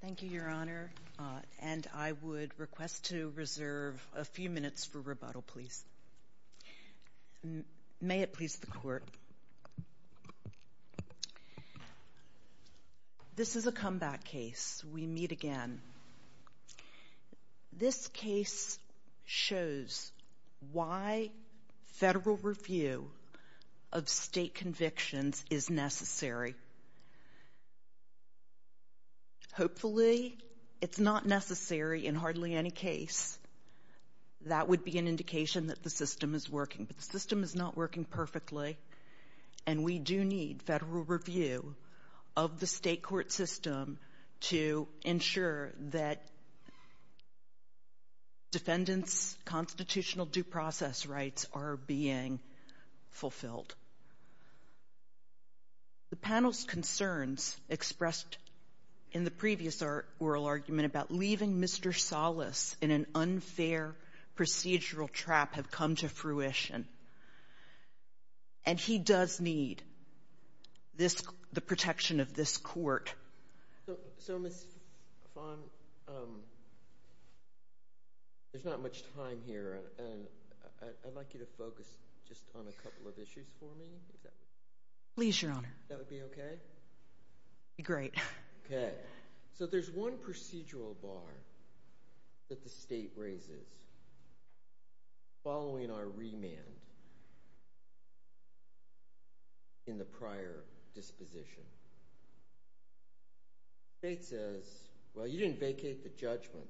Thank you, Your Honor, and I would request to reserve a few minutes for rebuttal, please. May it please the Court. This is a comeback case. We meet again. This case shows why federal review of state convictions is necessary. Hopefully, it's not necessary in hardly any case. That would be an indication that the system is working, but the system is not working and that defendants' constitutional due process rights are being fulfilled. The panel's concerns expressed in the previous oral argument about leaving Mr. Salas in an unfair procedural trap have come to fruition, and he does need this the protection of this Court. So, Ms. Fon, there's not much time here, and I'd like you to focus just on a couple of issues for me. Please, Your Honor. That would be okay? Great. Okay. So, there's one procedural bar that the state raises following our remand in the prior disposition. The state says, well, you didn't vacate the judgment,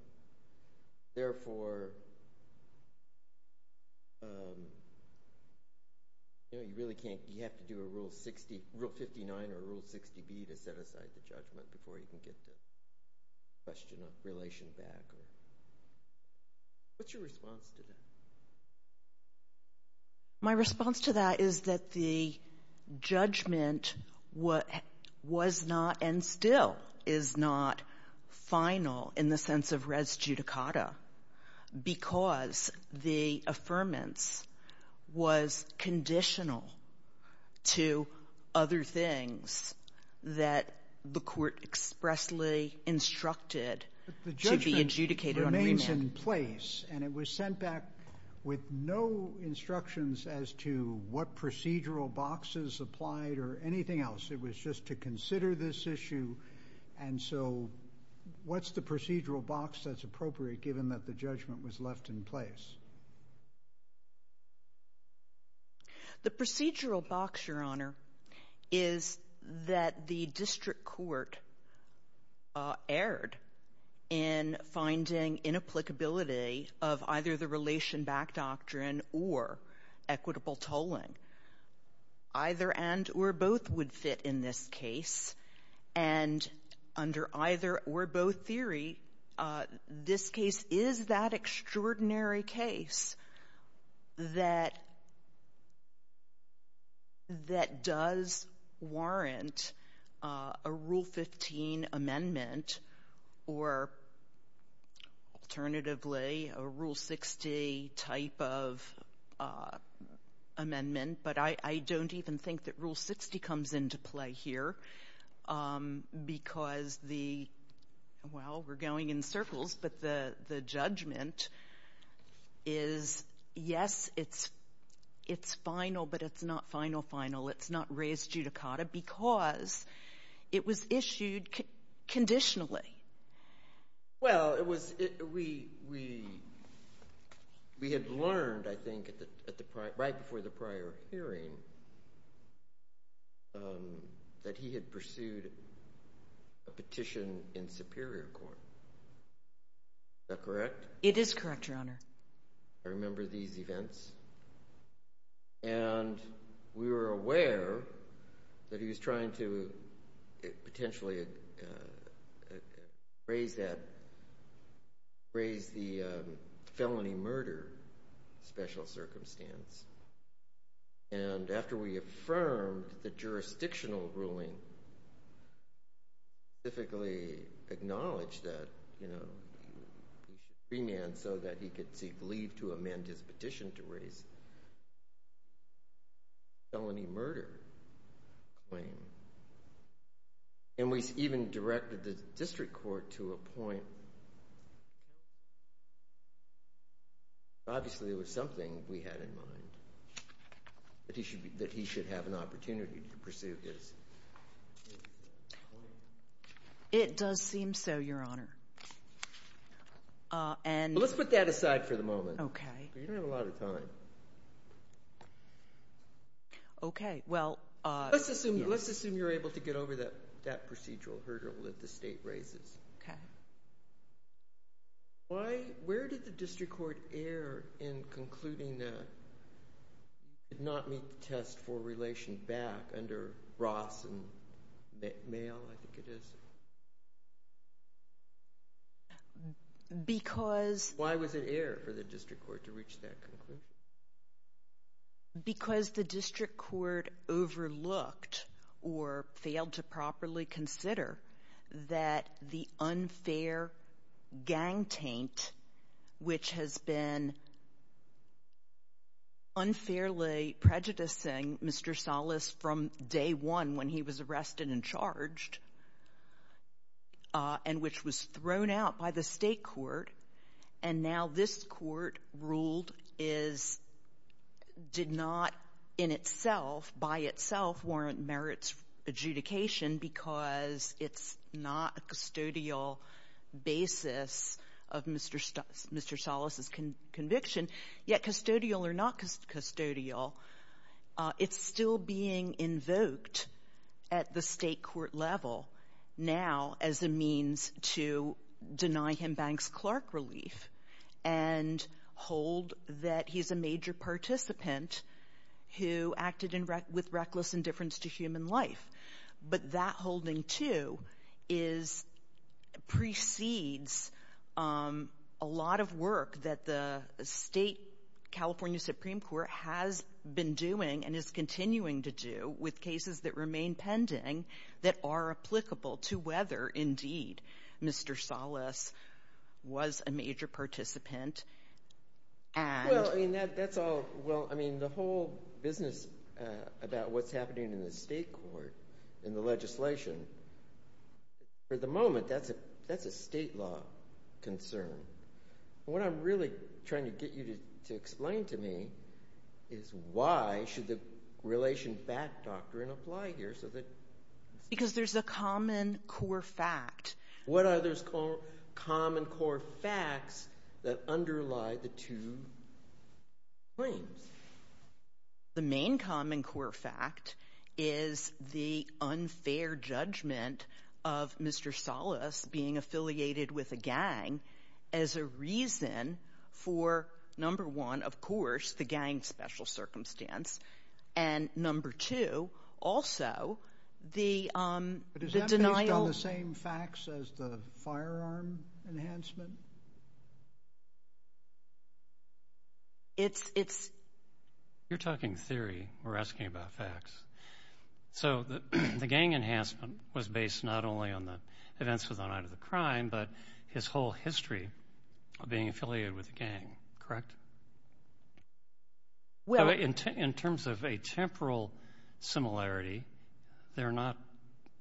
therefore, you know, you really can't, you have to do a Rule 59 or a Rule 60B to set aside the judgment before you can get the question of relation back. What's your response to that? My response to that is that the judgment was not and still is not final in the sense of res judicata because the affirmance was conditional to other things that the Court expressly instructed to be adjudicated on remand. It was in place, and it was sent back with no instructions as to what procedural boxes applied or anything else. It was just to consider this issue, and so what's the procedural box that's appropriate given that the judgment was left in place? The procedural box, Your Honor, is that the district court erred in finding inapplicability of either the relation back doctrine or equitable tolling. Either and or both would fit in this case, and under either or both theory, this case is that extraordinary case that does warrant a Rule 15 amendment or alternatively a Rule 60 type of amendment, but I don't even think that Rule 60 comes into play here because the, well, we're going in circles, but the judgment is, yes, it's final, but it's not final final. It's not res judicata because it was issued conditionally. Well, it was, we had learned, I think, right before the prior hearing that he had pursued a petition in Superior Court. Is that correct? It is correct, Your Honor. I remember these events, and we were aware that he was trying to potentially raise that, raise the felony murder special circumstance, and after we affirmed the jurisdictional ruling and specifically acknowledged that, you know, he should remand so that he could seek leave to amend his petition to raise the felony murder claim, and we even directed the district court to appoint, obviously it was something we had in mind, that he should have an opportunity to pursue his claim. It does seem so, Your Honor, and... Let's put that aside for the moment. Okay. You don't have a lot of time. Okay. Well... Let's assume you're able to get over that procedural hurdle that the state raises. Okay. Why, where did the district court err in concluding that you did not meet the test for relation back under Ross and Male, I think it is? Because... Why was it error for the district court to reach that conclusion? Because the district court overlooked or failed to properly consider that the unfair gang taint, which has been unfairly prejudicing Mr. Salas from day one when he was arrested and charged, and which was thrown out by the state court, and now this court ruled is, did not in itself, by itself, warrant merits adjudication because it's not a custodial basis of Mr. Salas's conviction, yet custodial or not custodial, it's still being invoked at the state court level now as a means to deny him Banks-Clark relief and hold that he's a major participant who acted with reckless indifference to human life. But that holding, too, precedes a lot of work that the state California Supreme Court has been doing and is continuing to do with cases that remain pending that are applicable to whether, indeed, Mr. Salas was a major participant and... Well, I mean, that's all... Well, I mean, the whole business about what's happening in the state court, in the legislation, for the moment, that's a state law concern. What I'm really trying to get you to explain to me is why should the relation back doctrine apply here so that... Because there's a common core fact. What are those common core facts that underlie the two claims? The main common core fact is the unfair judgment of Mr. Salas being affiliated with a gang as a reason for, number one, of course, the gang special circumstance, and, number two, also, the denial... But is that based on the same facts as the firearm enhancement? It's... You're talking theory. We're asking about facts. So the gang enhancement was based not only on the events of the night of the crime, but his whole history of being affiliated with the gang, correct? Well... But in terms of a temporal similarity, they're not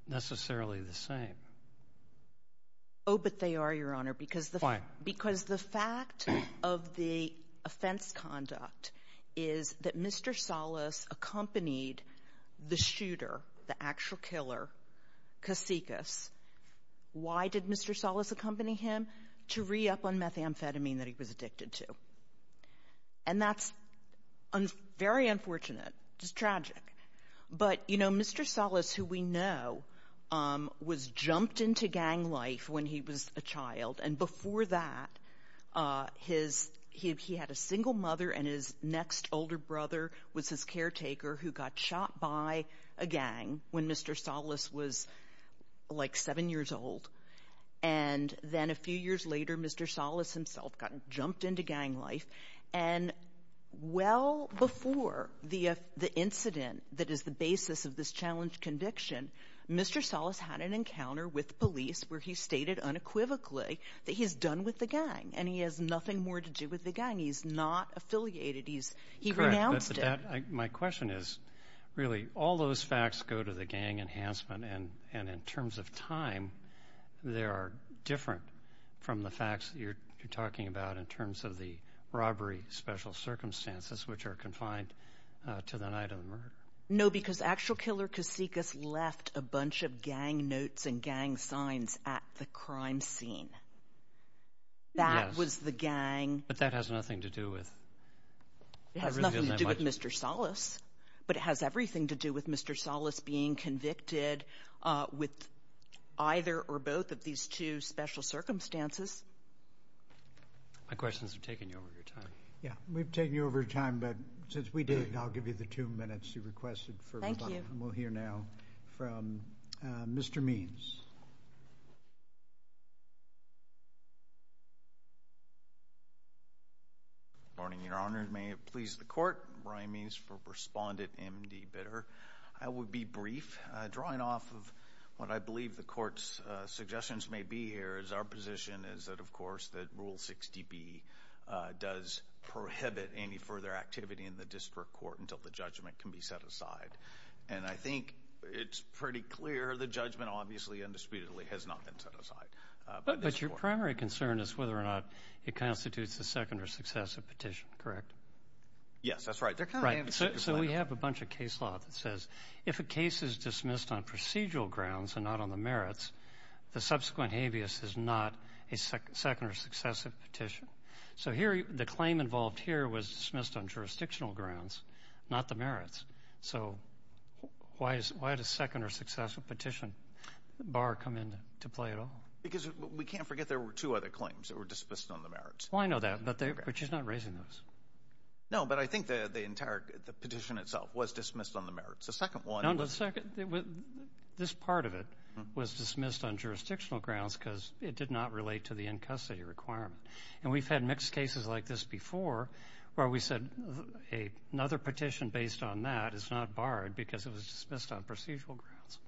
necessarily the same. Oh, but they are, Your Honor, because the fact... Why? Because the fact of the offense conduct is that Mr. Salas accompanied the shooter, the actual killer, Kasikas. Why did Mr. Salas accompany him? To re-up on methamphetamine that he was addicted to. And that's very unfortunate. It's tragic. But Mr. Salas, who we know, was jumped into gang life when he was a child. And before that, he had a single mother, and his next older brother was his caretaker who got shot by a gang when Mr. Salas was like seven years old. And then a few years later, Mr. Salas himself got jumped into gang life. And well before the incident that is the basis of this challenge conviction, Mr. Salas had an encounter with police where he stated unequivocally that he's done with the gang, and he has nothing more to do with the gang. He's not affiliated. He's... He renounced it. And that, my question is, really, all those facts go to the gang enhancement, and in terms of time, they are different from the facts you're talking about in terms of the robbery special circumstances, which are confined to the night of the murder. No, because actual killer Kasikas left a bunch of gang notes and gang signs at the crime scene. Yes. That was the gang... But that has nothing to do with... It has nothing to do with Mr. Salas, but it has everything to do with Mr. Salas being convicted with either or both of these two special circumstances. My questions are taking you over your time. Yeah, we've taken you over time, but since we did, I'll give you the two minutes you requested for rebuttal. And we'll hear now from Mr. Means. Good morning, Your Honor. May it please the Court, Brian Means for Respondent M.D. Bitter. I will be brief. Drawing off of what I believe the Court's suggestions may be here is our position is that, of course, that Rule 60B does prohibit any further activity in the district court until the judgment can be set aside. And I think it's pretty clear the judgment, obviously, indisputably, has not been set aside. But your primary concern is whether or not it constitutes a second or successive petition, correct? Yes, that's right. They're kind of... Right. So we have a bunch of case law that says if a case is dismissed on procedural grounds and not on the merits, the subsequent habeas is not a second or successive petition. So the claim involved here was dismissed on jurisdictional grounds, not the merits. So why does second or successive petition bar come into play at all? Because we can't forget there were two other claims that were dismissed on the merits. Well, I know that, but she's not raising those. No, but I think the entire petition itself was dismissed on the merits. The second one... No, the second... This part of it was dismissed on jurisdictional grounds because it did not relate to the in-custody requirement. And we've had mixed cases like this before where we said another petition based on that is not barred because it was dismissed on procedural grounds.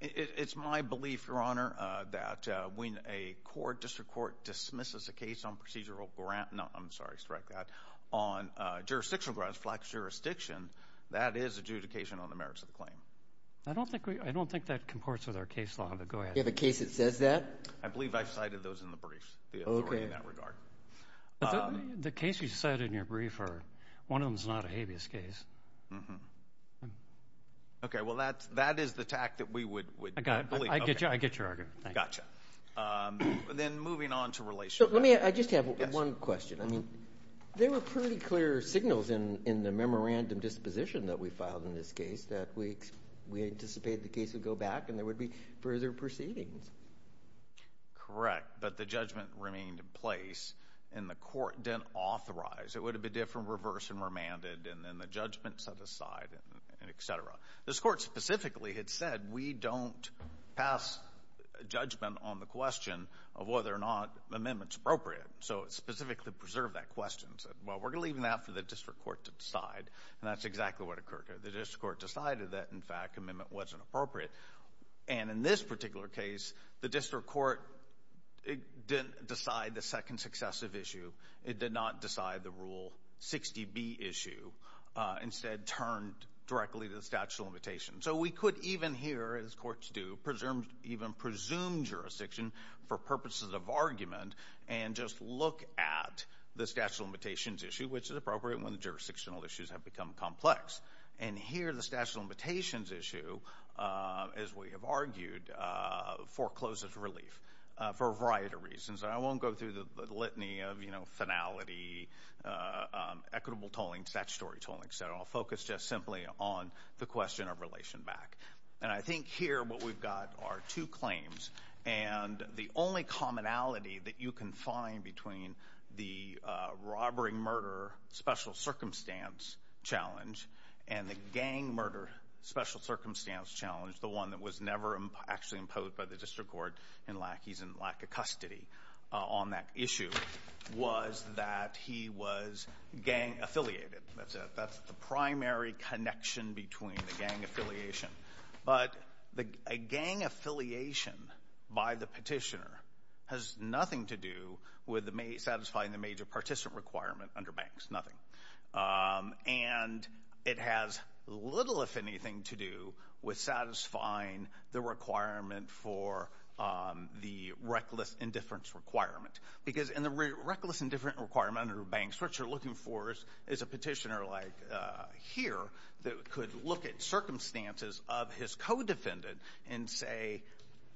It's my belief, Your Honor, that when a court, district court, dismisses a case on procedural grounds... No, I'm sorry. Strike that. On jurisdictional grounds, flex jurisdiction, that is adjudication on the merits of the I don't think that comports with our case law, but go ahead. You have a case that says that? I believe I've cited those in the briefs, the authority in that regard. Okay. The case you cited in your brief, one of them is not a habeas case. Mm-hmm. Okay, well, that is the tact that we would... I got it. I get your argument. Thank you. Gotcha. Then moving on to relation... Let me... I just have one question. I mean, there were pretty clear signals in the memorandum disposition that we filed in this case that we anticipated the case would go back and there would be further proceedings. Correct. But the judgment remained in place and the court didn't authorize. It would have been different reverse and remanded and then the judgment set aside and et cetera. This court specifically had said, we don't pass judgment on the question of whether or not the amendment's appropriate. So it specifically preserved that question and said, well, we're going to leave that for the district court to decide. And that's exactly what occurred. The district court decided that, in fact, amendment wasn't appropriate. And in this particular case, the district court didn't decide the second successive issue. It did not decide the Rule 60B issue. Instead, turned directly to the statute of limitations. So we could even here, as courts do, even presume jurisdiction for purposes of argument and just look at the statute of limitations issue, which is appropriate when the jurisdictional issues have become complex. And here, the statute of limitations issue, as we have argued, forecloses relief for a variety of reasons. And I won't go through the litany of, you know, finality, equitable tolling, statutory tolling, et cetera. I'll focus just simply on the question of relation back. And I think here what we've got are two claims. And the only commonality that you can find between the robbering murder special circumstance challenge and the gang murder special circumstance challenge, the one that was never actually imposed by the district court in lack of custody on that issue, was that he was gang affiliated. That's it. That's the primary connection between the gang affiliation. But a gang affiliation by the petitioner has nothing to do with satisfying the major participant requirement under banks. Nothing. And it has little, if anything, to do with satisfying the requirement for the reckless indifference requirement. Because in the reckless indifference requirement under banks, what you're looking for is a of his co-defendant and say,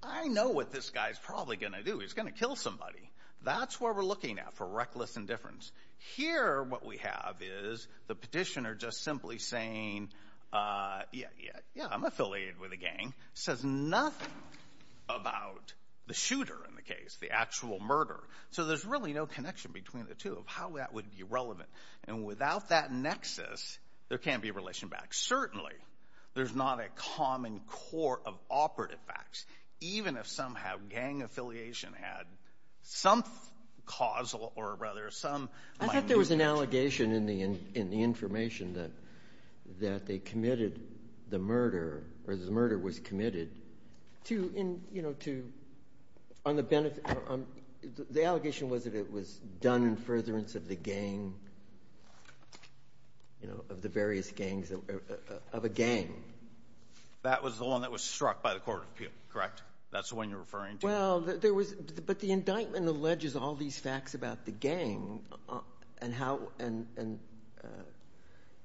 I know what this guy's probably going to do. He's going to kill somebody. That's what we're looking at for reckless indifference. Here what we have is the petitioner just simply saying, yeah, yeah, yeah, I'm affiliated with a gang. Says nothing about the shooter in the case, the actual murder. So there's really no connection between the two of how that would be relevant. And without that nexus, there can't be relation back. Certainly, there's not a common core of operative facts. Even if somehow gang affiliation had some causal or rather some minor connection. I thought there was an allegation in the information that they committed the murder, or the murder was committed, to, you know, to, on the benefit, the allegation was that it was done in furtherance of the gang, you know, of the various gangs, of a gang. That was the one that was struck by the court of appeal, correct? That's the one you're referring to? Well, there was, but the indictment alleges all these facts about the gang and how, and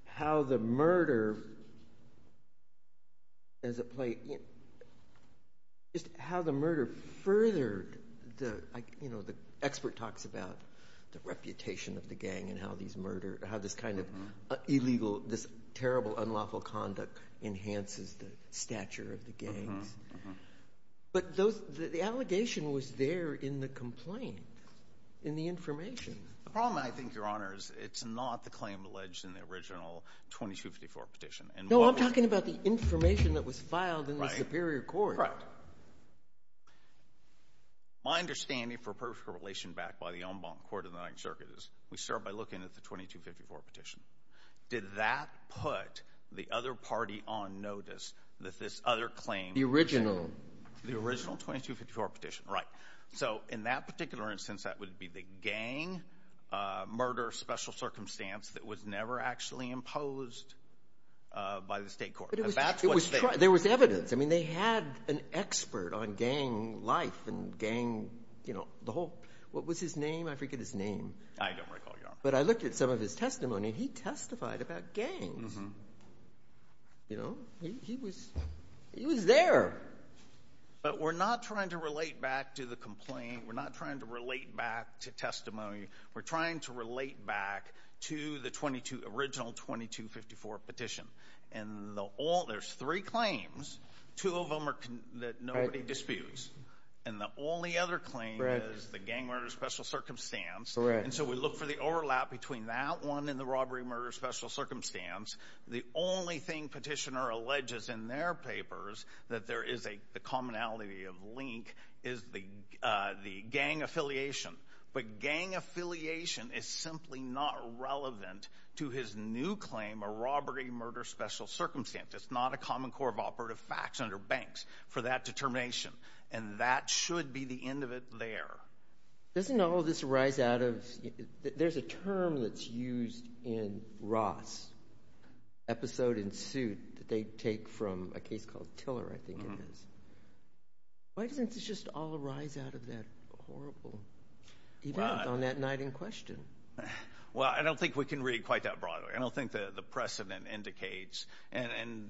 how the murder, as it played, just how the murder furthered the, you know, the expert talks about the reputation of the gang and how these murder, how this kind of illegal, this terrible unlawful conduct enhances the stature of the gangs. But those, the allegation was there in the complaint, in the information. The problem, I think, Your Honor, is it's not the claim alleged in the original 2254 petition. No, I'm talking about the information that was filed in the superior court. Correct. My understanding for a perfect correlation back by the en banc court of the Ninth Circuit is we start by looking at the 2254 petition. Did that put the other party on notice that this other claim was shared? The original. The original 2254 petition, right. So in that particular instance, that would be the gang murder special circumstance that was never actually imposed by the State court. There was evidence. I mean, they had an expert on gang life and gang, you know, the whole, what was his name? I forget his name. I don't recall, Your Honor. But I looked at some of his testimony. He testified about gangs. You know, he was there. But we're not trying to relate back to the complaint. We're not trying to relate back to testimony. We're trying to relate back to the original 2254 petition. And there's three claims. Two of them are that nobody disputes. And the only other claim is the gang murder special circumstance. Correct. And so we look for the overlap between that one and the robbery murder special circumstance. The only thing petitioner alleges in their papers that there is a commonality of link is the gang affiliation. But gang affiliation is simply not relevant to his new claim, a robbery murder special circumstance. It's not a common core of operative facts under banks for that determination. And that should be the end of it there. Doesn't all of this rise out of, there's a term that's used in Ross, episode in suit, that they take from a case called Tiller, I think it is. Why doesn't this just all rise out of that horrible event on that night in question? Well, I don't think we can read quite that broadly. I don't think the precedent indicates. And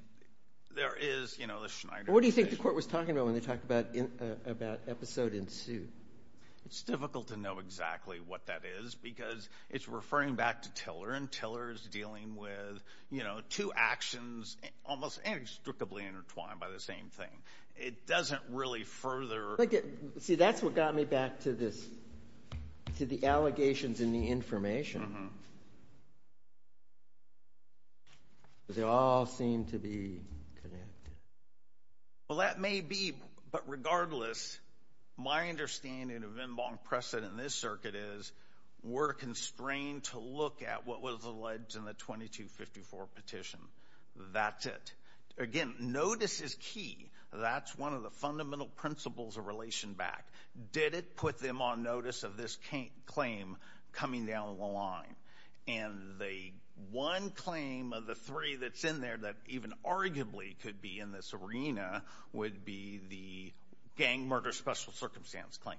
there is, you know, the Schneider case. What do you think the court was talking about when they talked about episode in suit? It's difficult to know exactly what that is because it's referring back to Tiller. And Tiller is dealing with, you know, two actions almost inextricably intertwined by the same thing. It doesn't really further. See, that's what got me back to this, to the allegations in the information. They all seem to be connected. Well, that may be. But regardless, my understanding of en banc precedent in this circuit is we're constrained to look at what was alleged in the 2254 petition. That's it. Again, notice is key. That's one of the fundamental principles of relation back. Did it put them on notice of this claim coming down the line? And the one claim of the three that's in there that even arguably could be in this arena would be the gang murder special circumstance claim.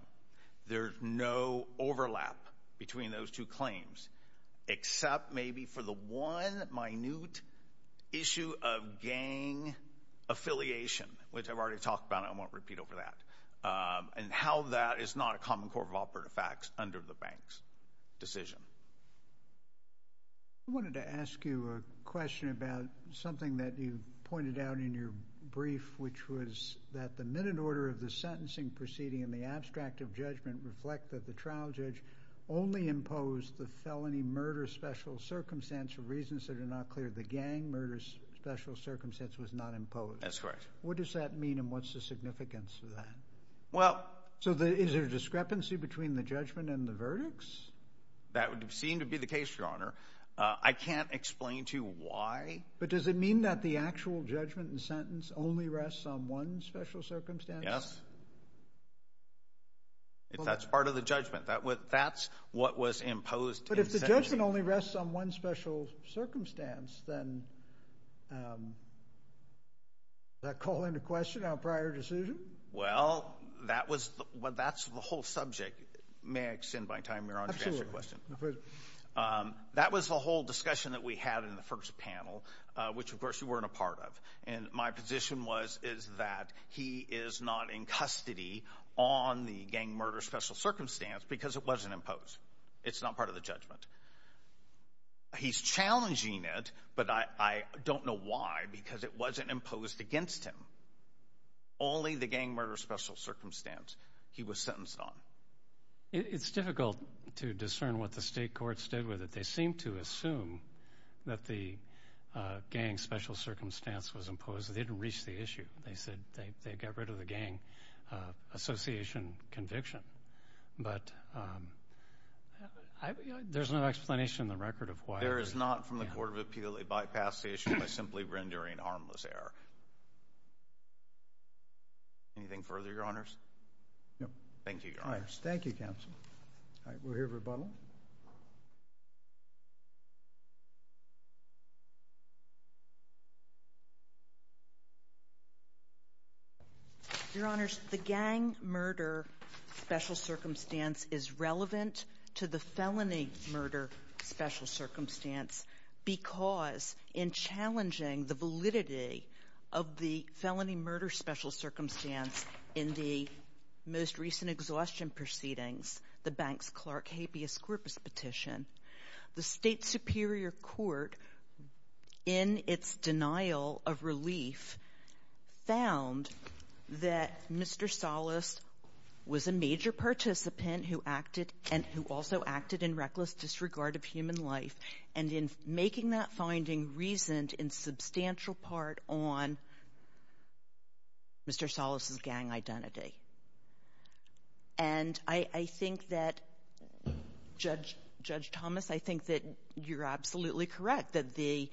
There's no overlap between those two claims except maybe for the one minute issue of gang affiliation, which I've already talked about and I won't repeat over that, and how that is not a common core of operative facts under the bank's decision. I wanted to ask you a question about something that you pointed out in your brief, which was that the minute order of the sentencing proceeding and the abstract of judgment reflect that the trial judge only imposed the felony murder special circumstance for reasons that are not clear. The gang murder special circumstance was not imposed. That's correct. What does that mean and what's the significance of that? So is there a discrepancy between the judgment and the verdicts? That would seem to be the case, Your Honor. I can't explain to you why. But does it mean that the actual judgment and sentence only rests on one special circumstance? Yes. That's part of the judgment. That's what was imposed. But if the judgment only rests on one special circumstance, then does that call into question our prior decision? Well, that's the whole subject. May I extend my time, Your Honor, to answer your question? That was the whole discussion that we had in the first panel, which, of course, you weren't a part of. And my position is that he is not in custody on the gang murder special circumstance because it wasn't imposed. It's not part of the judgment. He's challenging it, but I don't know why, because it wasn't imposed against him. Only the gang murder special circumstance he was sentenced on. It's difficult to discern what the state courts did with it. They seemed to assume that the gang special circumstance was imposed. They didn't reach the issue. They said they got rid of the gang association conviction. But there's no explanation in the record of why. There is not from the court of appeal. It bypassed the issue by simply rendering harmless error. Anything further, Your Honors? No. Thank you, Your Honors. Thank you, Counsel. All right, we'll hear rebuttal. Your Honors, the gang murder special circumstance is relevant to the felony murder special circumstance because in challenging the validity of the felony murder special circumstance in the most recent exhaustion proceedings, the Banks-Clark habeas corpus petition, the State Superior Court, in its denial of relief, found that Mr. Salas was a major participant who acted and who also acted in reckless disregard of human life. And in making that finding reasoned in substantial part on Mr. Salas' gang identity. And I think that, Judge Thomas, I think that you're absolutely correct, that the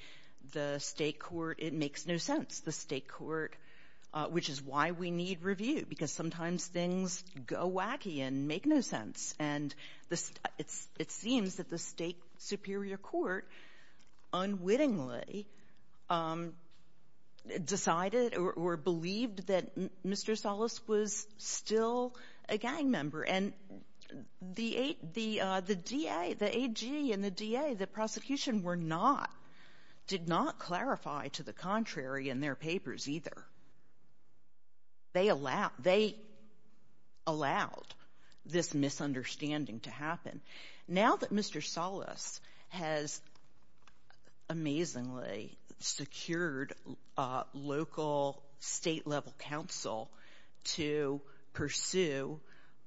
State court, it makes no sense. The State court, which is why we need review, because sometimes things go wacky and make no sense. And it seems that the State Superior Court unwittingly decided or believed that Mr. Salas was still a gang member. And the DA, the AG and the DA, the prosecution, were not, did not clarify to the contrary in their papers either. They allowed this misunderstanding to happen. Now that Mr. Salas has amazingly secured local state-level counsel to pursue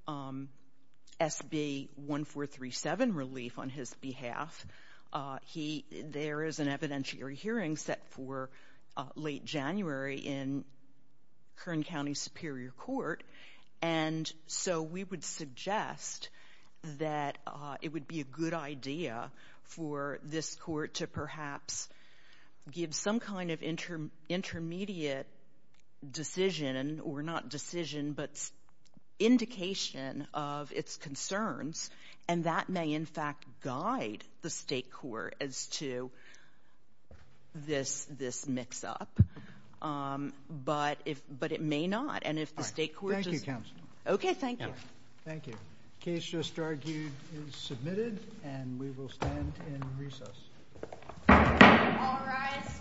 SB 1437 relief on his behalf, there is an evidentiary hearing set for late January in Kern County Superior Court. And so we would suggest that it would be a good idea for this court to perhaps give some kind of intermediate decision, or not decision, but indication of its concerns. And that may in fact guide the State court as to this mix-up. But it may not. And if the State court just... Thank you, Counsel. Okay, thank you. Thank you. Case just argued is submitted and we will stand in recess. All rise.